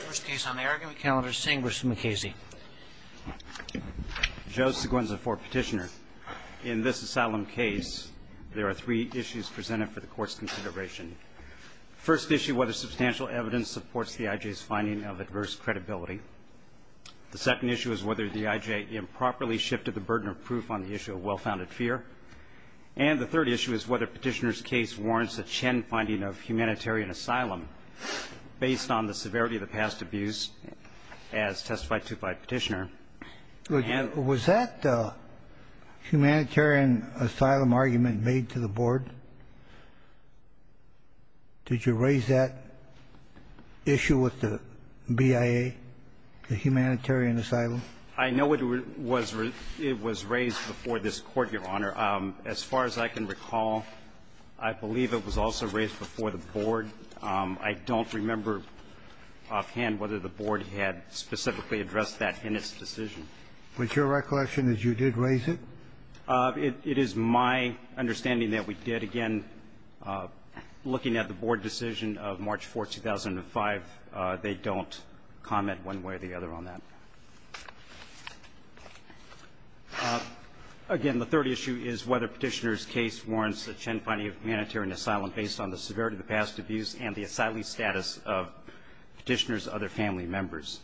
First case on the argument calendar, St. Bruce MacCasey. Joe Seguenza for petitioner. In this asylum case, there are three issues presented for the court's consideration. First issue, whether substantial evidence supports the I.J.'s finding of adverse credibility. The second issue is whether the I.J. improperly shifted the burden of proof on the issue of well-founded fear. And the third issue is whether petitioner's case warrants a Chen finding of humanitarian asylum based on the severity of the past abuse as testified to by petitioner. Was that humanitarian asylum argument made to the board? Did you raise that issue with the BIA, the humanitarian asylum? I know it was raised before this court, Your Honor. As far as I can recall, I believe it was also raised before the board. I don't remember offhand whether the board had specifically addressed that in its decision. Was your recollection that you did raise it? It is my understanding that we did. Again, looking at the board decision of March 4th, 2005, they don't comment one way or the other on that. Again, the third issue is whether petitioner's case warrants a Chen finding of humanitarian asylum based on the severity of the past abuse and the asylee status of petitioner's other family members.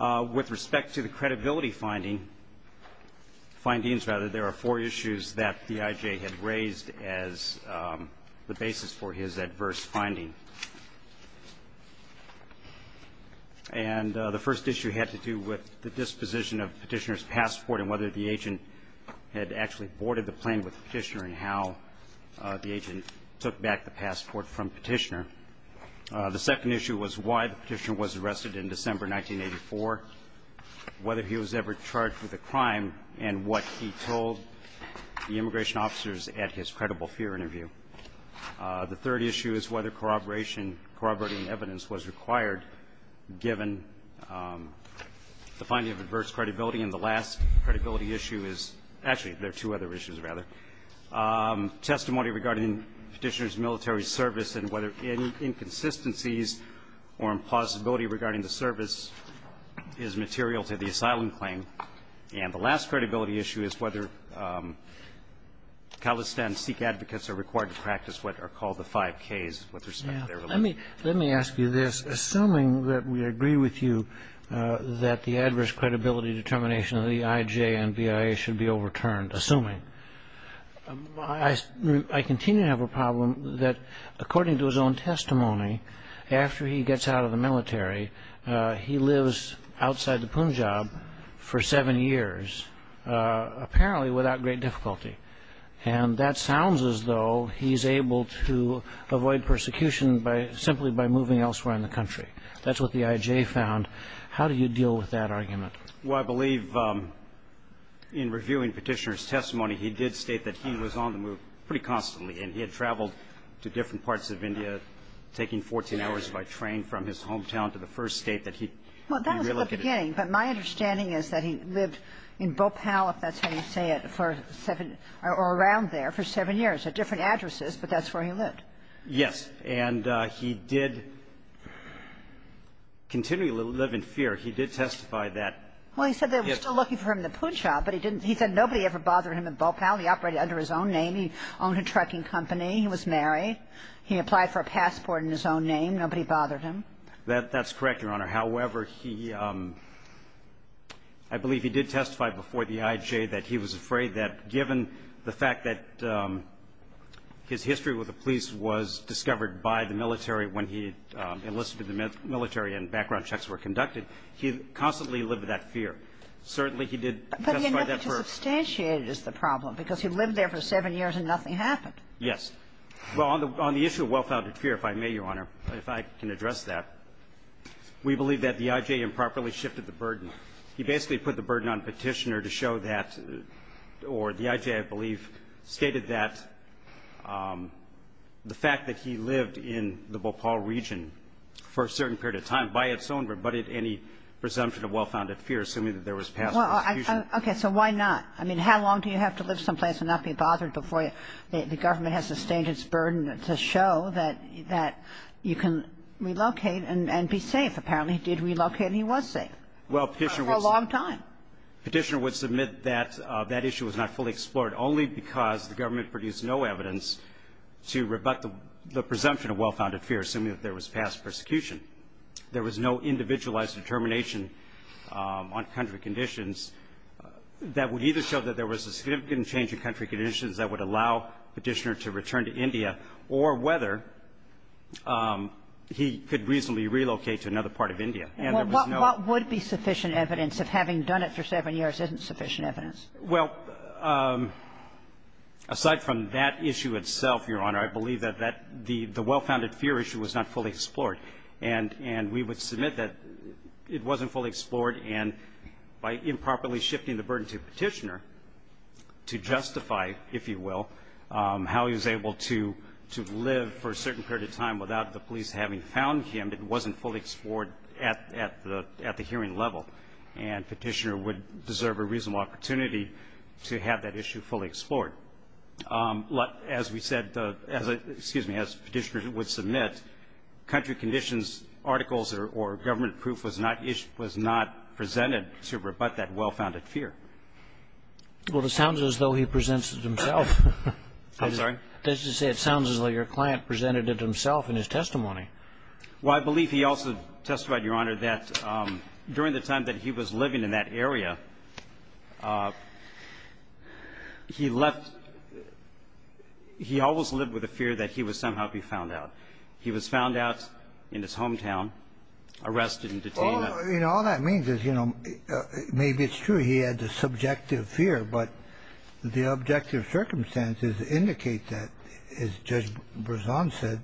With respect to the credibility findings, there are four issues that the I.J. had raised as the basis for his adverse finding. And the first issue had to do with the disposition of petitioner's passport and whether the agent had actually boarded the plane with the petitioner and how the agent took back the passport from petitioner. The second issue was why the petitioner was arrested in December 1984, whether he was ever charged with a crime, and what he told the immigration officers at his credible fear interview. The third issue is whether corroboration, corroborating evidence was required given the finding of adverse credibility. And the last credibility issue is actually there are two other issues, rather, testimony regarding petitioner's military service and whether inconsistencies or impossibility regarding the service is material to the asylum claim. And the last credibility issue is whether Khalistan Sikh advocates are required to practice what are called the five Ks with respect to their religion. Let me ask you this. Assuming that we agree with you that the adverse credibility determination of the I.J. and BIA should be overturned, assuming, I continue to have a problem that, according to his own testimony, after he gets out of the military, he lives outside the Punjab for seven years, apparently without great difficulty, and that sounds as though he's able to avoid persecution simply by moving elsewhere in the country. That's what the I.J. found. How do you deal with that argument? Well, I believe in reviewing petitioner's testimony, he did state that he was on the move pretty constantly, and he had traveled to different parts of India, taking 14 hours by train from his hometown to the first state that he relocated to. Well, that was the beginning. But my understanding is that he lived in Bhopal, if that's how you say it, for seven or around there for seven years at different addresses, but that's where he lived. Yes. And he did continue to live in fear. He did testify that his – Well, he said they were still looking for him in Punjab, but he didn't – he said nobody ever bothered him in Bhopal. He operated under his own name. He owned a trucking company. He was married. He applied for a passport in his own name. Nobody bothered him. That's correct, Your Honor. However, he – I believe he did testify before the I.J. that he was afraid that given the fact that his history with the police was discovered by the military when he enlisted in the military and background checks were conducted, he constantly lived with that fear. Certainly, he did testify that for – But he never just substantiated the problem because he lived there for seven years and nothing happened. Yes. Well, on the issue of well-founded fear, if I may, Your Honor, if I can address that, we believe that the I.J. improperly shifted the burden. He basically put the burden on Petitioner to show that – or the I.J., I believe, stated that the fact that he lived in the Bhopal region for a certain period of time by its own rebutted any presumption of well-founded fear, assuming that there was past prosecution. Okay. So why not? I mean, how long do you have to live someplace and not be bothered before the I.J.'s burden to show that you can relocate and be safe? Apparently, he did relocate and he was safe. Well, Petitioner would – For a long time. Petitioner would submit that that issue was not fully explored only because the government produced no evidence to rebut the presumption of well-founded fear, assuming that there was past persecution. There was no individualized determination on country conditions that would either show that there was a significant change in country conditions that would allow Petitioner to return to India or whether he could reasonably relocate to another part of India, and there was no – Well, what would be sufficient evidence if having done it for seven years isn't sufficient evidence? Well, aside from that issue itself, Your Honor, I believe that that – the well-founded fear issue was not fully explored. And we would submit that it wasn't fully explored, and by improperly shifting the burden to Petitioner to justify, if you will, how he was able to live for a certain period of time without the police having found him, it wasn't fully explored at the hearing level. And Petitioner would deserve a reasonable opportunity to have that issue fully explored. As we said – excuse me, as Petitioner would submit, country conditions articles or government proof was not presented to rebut that well-founded fear. Well, it sounds as though he presents it himself. I'm sorry? I was going to say it sounds as though your client presented it himself in his testimony. Well, I believe he also testified, Your Honor, that during the time that he was living in that area, he left – he always lived with a fear that he would somehow be found out. He was found out in his hometown, arrested and detained. Well, you know, all that means is, you know, maybe it's true he had the subjective fear, but the objective circumstances indicate that, as Judge Brezon said,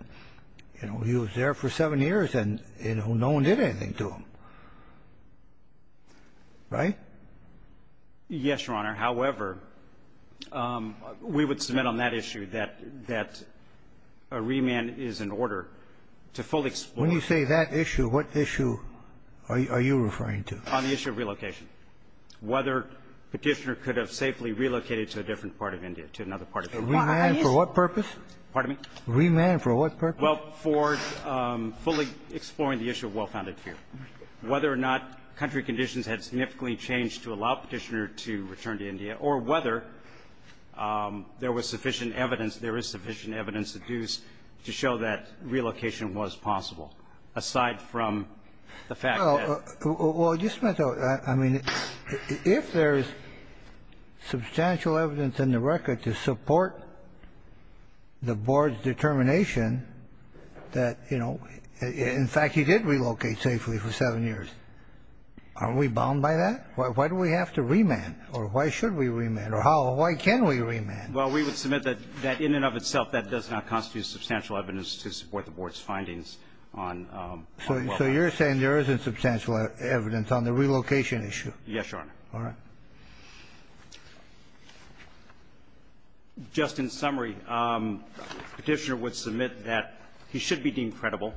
you know, he was there for seven years and, you know, no one did anything to him. Right? Yes, Your Honor. However, we would submit on that issue that – that a remand is an order to fully explore. When you say that issue, what issue are you referring to? On the issue of relocation. Whether Petitioner could have safely relocated to a different part of India, to another part of India. A remand for what purpose? Pardon me? A remand for what purpose? Well, for fully exploring the issue of well-founded fear. Whether or not country conditions had significantly changed to allow Petitioner to return to India, or whether there was sufficient evidence, there is sufficient evidence to show that relocation was possible, aside from the fact that – Well, just a minute, though. I mean, if there is substantial evidence in the record to support the board's determination that, you know, in fact, he did relocate safely for seven years, aren't we bound by that? Why do we have to remand? Or why should we remand? Or how – why can we remand? Well, we would submit that in and of itself that does not constitute substantial evidence to support the board's findings on well-founded fear. So you're saying there isn't substantial evidence on the relocation issue? Yes, Your Honor. All right. Just in summary, Petitioner would submit that he should be deemed credible,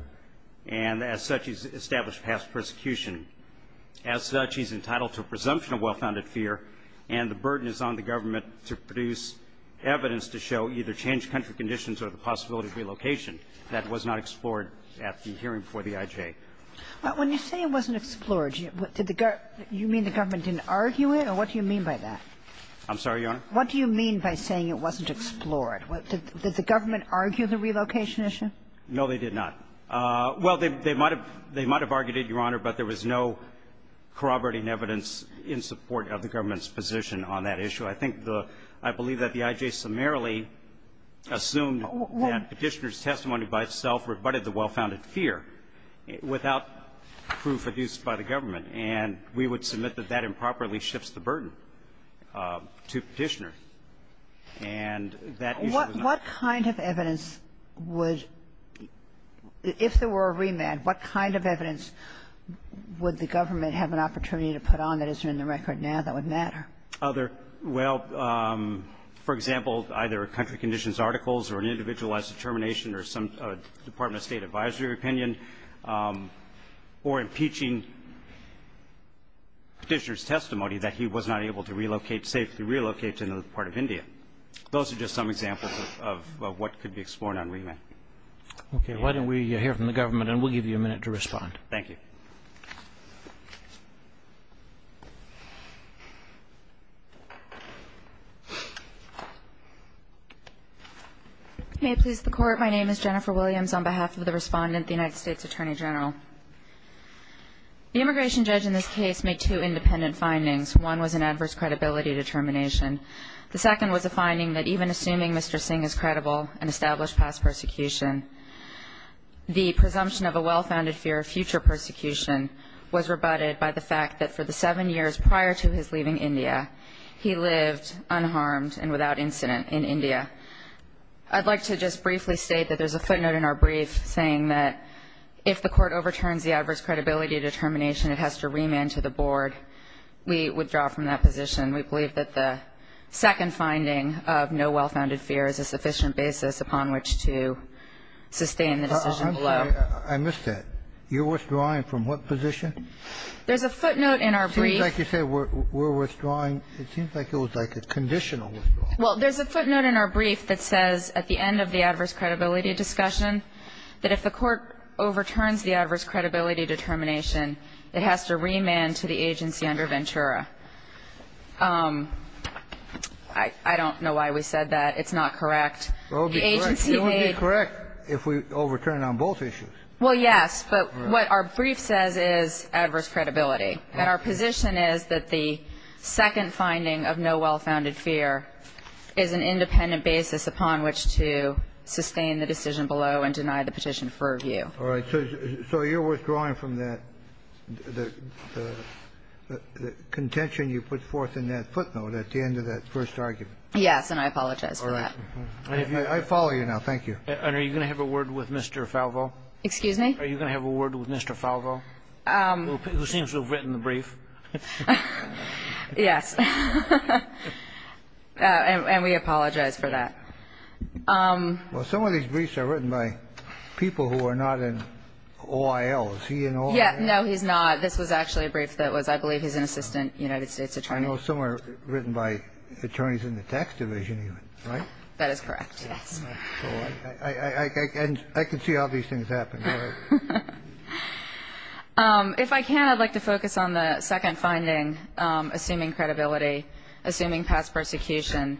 and as such, he's established past persecution. As such, he's entitled to a presumption of well-founded fear, and the burden is on the government to produce evidence to show either changed country conditions or the possibility of relocation. That was not explored at the hearing before the IJ. When you say it wasn't explored, did the – you mean the government didn't argue it, or what do you mean by that? I'm sorry, Your Honor? What do you mean by saying it wasn't explored? Did the government argue the relocation issue? No, they did not. Well, they might have – they might have argued it, Your Honor, but there was no corroborating evidence in support of the government's position on that issue. I think the – I believe that the IJ summarily assumed that Petitioner's testimony by itself rebutted the well-founded fear without proof produced by the government, and we would submit that that improperly shifts the burden to Petitioner. And that issue was not – What kind of evidence would – if there were a remand, what kind of evidence would the government have an opportunity to put on that isn't in the record now that would matter? Well, for example, either country conditions articles or an individualized termination or some Department of State advisory opinion or impeaching Petitioner's testimony that he was not able to relocate – safely relocate to another part of India. Those are just some examples of what could be explored on remand. Okay. Why don't we hear from the government, and we'll give you a minute to respond. Thank you. May it please the Court, my name is Jennifer Williams. On behalf of the Respondent, the United States Attorney General, the immigration judge in this case made two independent findings. One was an adverse credibility determination. The second was a finding that even assuming Mr. Singh is credible and established past persecution, the presumption of a well-founded fear of future persecution was rebutted by the fact that for the seven years prior to his leaving India, he lived unharmed and without incident in India. I'd like to just briefly state that there's a footnote in our brief saying that if the Court overturns the adverse credibility determination, it has to remand to the board. We withdraw from that position. We believe that the second finding of no well-founded fear is a sufficient basis upon which to sustain the decision below. I missed that. You're withdrawing from what position? There's a footnote in our brief. It seems like you said we're withdrawing. It seems like it was like a conditional withdrawal. Well, there's a footnote in our brief that says at the end of the adverse credibility discussion that if the Court overturns the adverse credibility determination, it has to remand to the agency under Ventura. I don't know why we said that. It's not correct. It would be correct if we overturned on both issues. Well, yes, but what our brief says is adverse credibility. And our position is that the second finding of no well-founded fear is an independent basis upon which to sustain the decision below and deny the petition for review. All right. So you're withdrawing from that, the contention you put forth in that footnote at the end of that first argument. Yes, and I apologize for that. All right. I follow you now. Thank you. And are you going to have a word with Mr. Falvo? Excuse me? Are you going to have a word with Mr. Falvo, who seems to have written the brief? Yes. And we apologize for that. Well, some of these briefs are written by people who are not in OIL. Is he in OIL? No, he's not. This was actually a brief that was, I believe, he's an assistant United States attorney. I know some are written by attorneys in the tax division, right? That is correct, yes. I can see how these things happen. All right. If I can, I'd like to focus on the second finding, assuming credibility, assuming past persecution,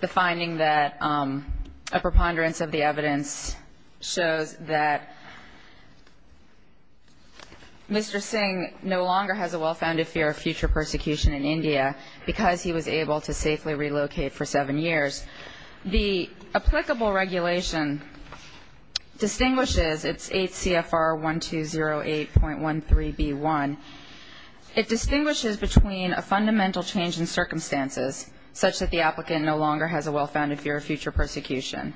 the finding that a preponderance of the evidence shows that Mr. Singh no longer has a well-founded fear of future persecution in India because he was able to safely relocate for seven years. The applicable regulation distinguishes, it's 8 CFR 1208.13b1. It distinguishes between a fundamental change in circumstances such that the applicant no longer has a well-founded fear of future persecution.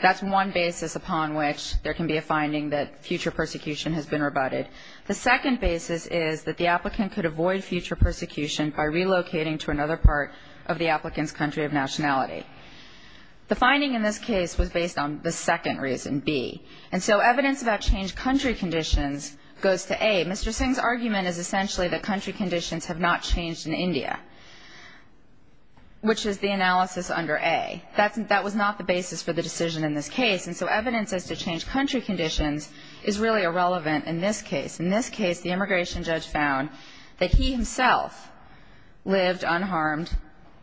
That's one basis upon which there can be a finding that future persecution has been rebutted. The second basis is that the applicant could avoid future persecution by relocating to another part of the applicant's country of nationality. The finding in this case was based on the second reason, B. And so evidence about changed country conditions goes to A. Mr. Singh's argument is essentially that country conditions have not changed in India, which is the analysis under A. That was not the basis for the decision in this case. And so evidence as to changed country conditions is really irrelevant in this case. In this case, the immigration judge found that he himself lived unharmed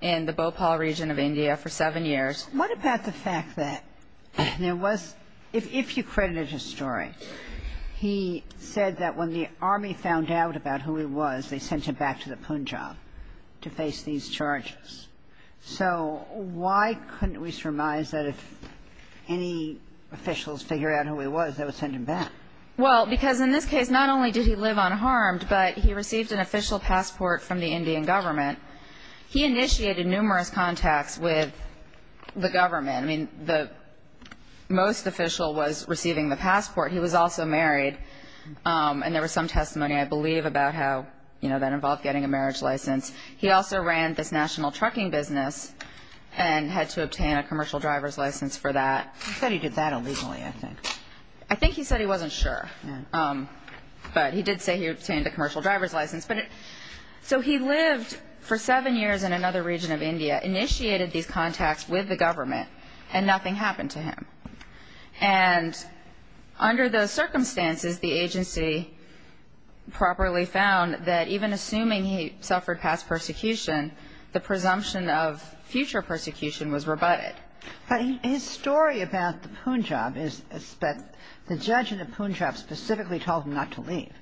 in the Bhopal region of India for seven years. What about the fact that there was, if you credited his story, he said that when the army found out about who he was, they sent him back to the Punjab to face these charges. So why couldn't we surmise that if any officials figure out who he was, they would send him back? Well, because in this case, not only did he live unharmed, but he received an official passport from the Indian government. He initiated numerous contacts with the government. I mean, the most official was receiving the passport. He was also married. And there was some testimony, I believe, about how, you know, that involved getting a marriage license. He also ran this national trucking business and had to obtain a commercial driver's license for that. He said he did that illegally, I think. I think he said he wasn't sure. But he did say he obtained a commercial driver's license. So he lived for seven years in another region of India, initiated these contacts with the government, and nothing happened to him. And under those circumstances, the agency properly found that even assuming he suffered past persecution, the presumption of future persecution was rebutted. But his story about the Punjab is that the judge in the Punjab specifically told him not to leave,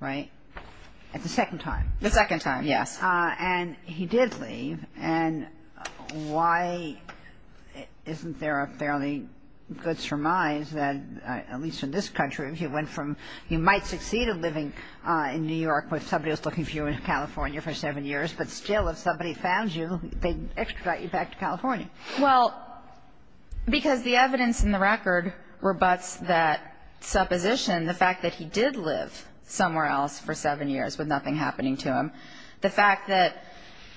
right? At the second time. The second time, yes. And he did leave. And why isn't there a fairly good surmise that, at least in this country, if you went from you might succeed in living in New York with somebody who's looking for you in California for seven years, but still if somebody found you, they'd extradite you back to California? Well, because the evidence in the record rebutts that supposition. The fact that he did live somewhere else for seven years with nothing happening to him. The fact that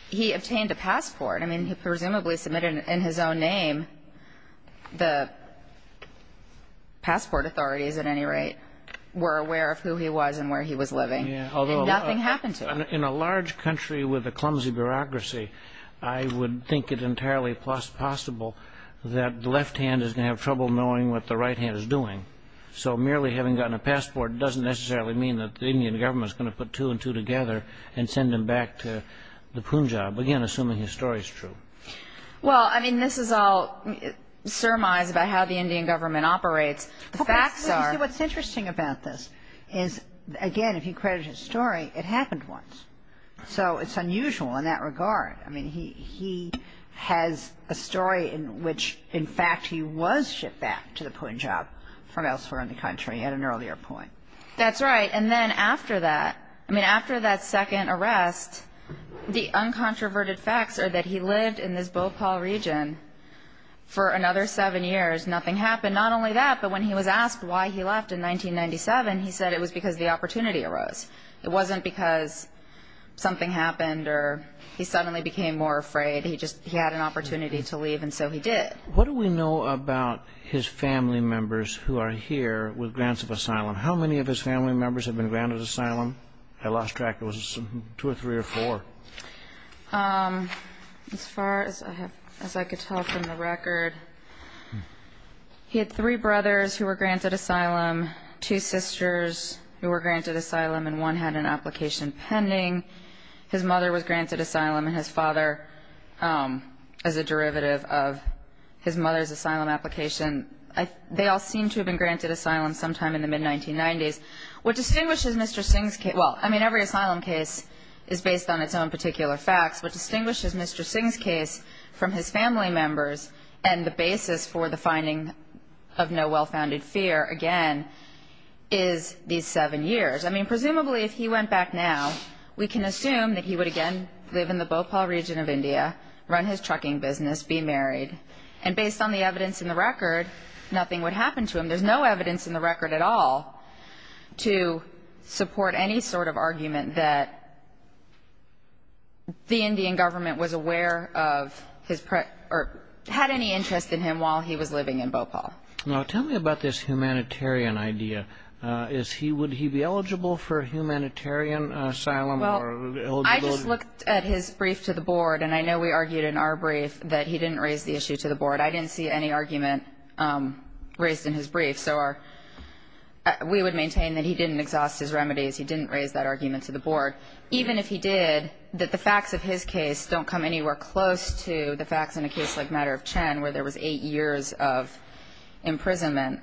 he obtained a passport. I mean, he presumably submitted it in his own name. The passport authorities, at any rate, were aware of who he was and where he was living. And nothing happened to him. In a large country with a clumsy bureaucracy, I would think it entirely possible that the left hand is going to have trouble knowing what the right hand is doing. So merely having gotten a passport doesn't necessarily mean that the Indian government is going to put two and two together and send him back to the Punjab. Again, assuming his story is true. Well, I mean, this is all surmise about how the Indian government operates. The facts are... What's interesting about this is, again, if you credit his story, it happened once. So it's unusual in that regard. I mean, he has a story in which, in fact, he was shipped back to the Punjab from elsewhere in the country at an earlier point. That's right. And then after that, I mean, after that second arrest, the uncontroverted facts are that he lived in this Bhopal region for another seven years. Nothing happened. Not only that, but when he was asked why he left in 1997, he said it was because the opportunity arose. It wasn't because something happened or he suddenly became more afraid. He just had an opportunity to leave, and so he did. What do we know about his family members who are here with grants of asylum? How many of his family members have been granted asylum? I lost track. It was two or three or four. As far as I could tell from the record, he had three brothers who were granted asylum and one had an application pending. His mother was granted asylum and his father as a derivative of his mother's asylum application. They all seemed to have been granted asylum sometime in the mid-1990s. What distinguishes Mr. Singh's case – well, I mean, every asylum case is based on its own particular facts. What distinguishes Mr. Singh's case from his family members and the basis for the finding of no well-founded fear, again, is these seven years. I mean, presumably if he went back now, we can assume that he would again live in the Bhopal region of India, run his trucking business, be married. And based on the evidence in the record, nothing would happen to him. There's no evidence in the record at all to support any sort of argument that the Indian government was aware of his – or had any interest in him while he was living in Bhopal. Now, tell me about this humanitarian idea. Would he be eligible for humanitarian asylum or eligible? Well, I just looked at his brief to the board, and I know we argued in our brief that he didn't raise the issue to the board. I didn't see any argument raised in his brief. So we would maintain that he didn't exhaust his remedies. He didn't raise that argument to the board. Even if he did, that the facts of his case don't come anywhere close to the facts in a case like Matter of Chen where there was eight years of imprisonment.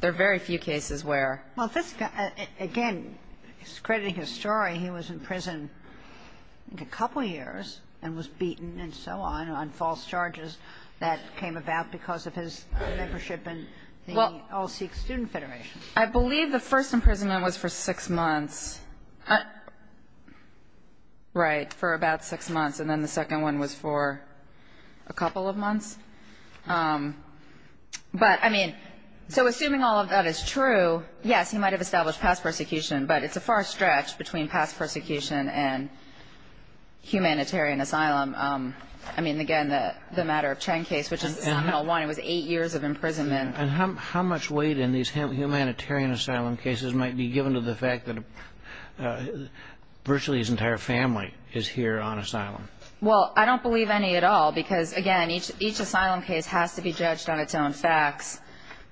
There are very few cases where — Well, this guy, again, he's crediting his story. He was in prison a couple years and was beaten and so on on false charges that came about because of his membership in the All Sikh Student Federation. I believe the first imprisonment was for six months. Right, for about six months. And then the second one was for a couple of months. But, I mean, so assuming all of that is true, yes, he might have established past persecution, but it's a far stretch between past persecution and humanitarian asylum. I mean, again, the Matter of Chen case, which is the seminal one, it was eight years of imprisonment. And how much weight in these humanitarian asylum cases might be given to the fact that virtually his entire family is here on asylum? Well, I don't believe any at all because, again, each asylum case has to be judged on its own facts.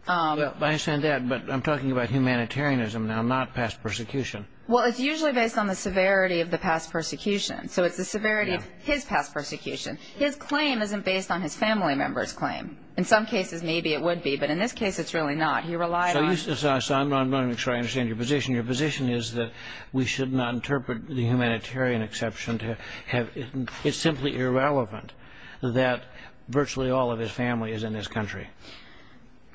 I understand that, but I'm talking about humanitarianism now, not past persecution. Well, it's usually based on the severity of the past persecution. So it's the severity of his past persecution. His claim isn't based on his family member's claim. In some cases, maybe it would be. But in this case, it's really not. He relied on his family. So I'm not going to try to understand your position. Your position is that we should not interpret the humanitarian exception to have It's simply irrelevant that virtually all of his family is in this country.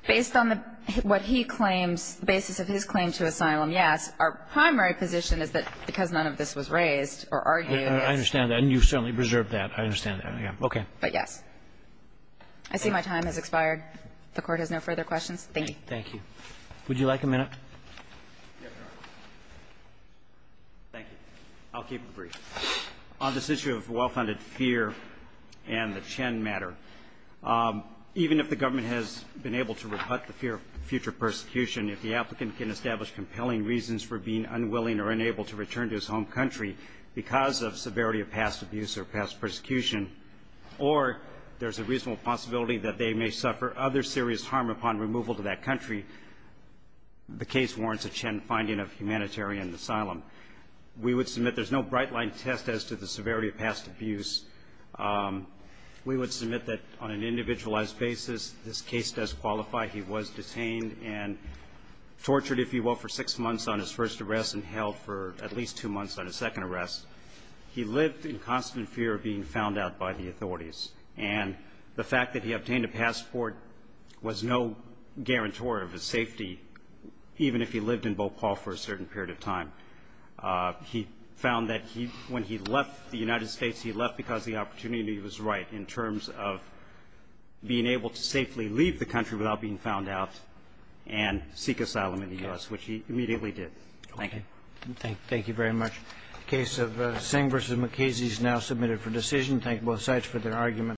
Based on what he claims, the basis of his claim to asylum, yes. Our primary position is that because none of this was raised or argued. I understand that. And you certainly preserved that. I understand that. Okay. But, yes. I see my time has expired. The Court has no further questions. Thank you. Thank you. Would you like a minute? Thank you. I'll keep it brief. On this issue of well-founded fear and the Chen matter, even if the government has been able to rebut the fear of future persecution, if the applicant can establish compelling reasons for being unwilling or unable to return to his home country because of severity of past abuse or past persecution, or there's a reasonable possibility that they may suffer other serious harm upon removal to that country, the case warrants a Chen finding of humanitarian asylum. We would submit there's no bright-line test as to the severity of past abuse. We would submit that on an individualized basis, this case does qualify. He was detained and tortured, if you will, for six months on his first arrest and held for at least two months on his second arrest. He lived in constant fear of being found out by the authorities, and the fact that he obtained a passport was no guarantor of his safety, even if he lived in Bhopal for a certain period of time. He found that when he left the United States, he left because the opportunity was right in terms of being able to safely leave the country without being found out and seek asylum in the U.S., which he immediately did. Thank you. Thank you very much. The case of Singh v. McKenzie is now submitted for decision. Thank both sides for their arguments.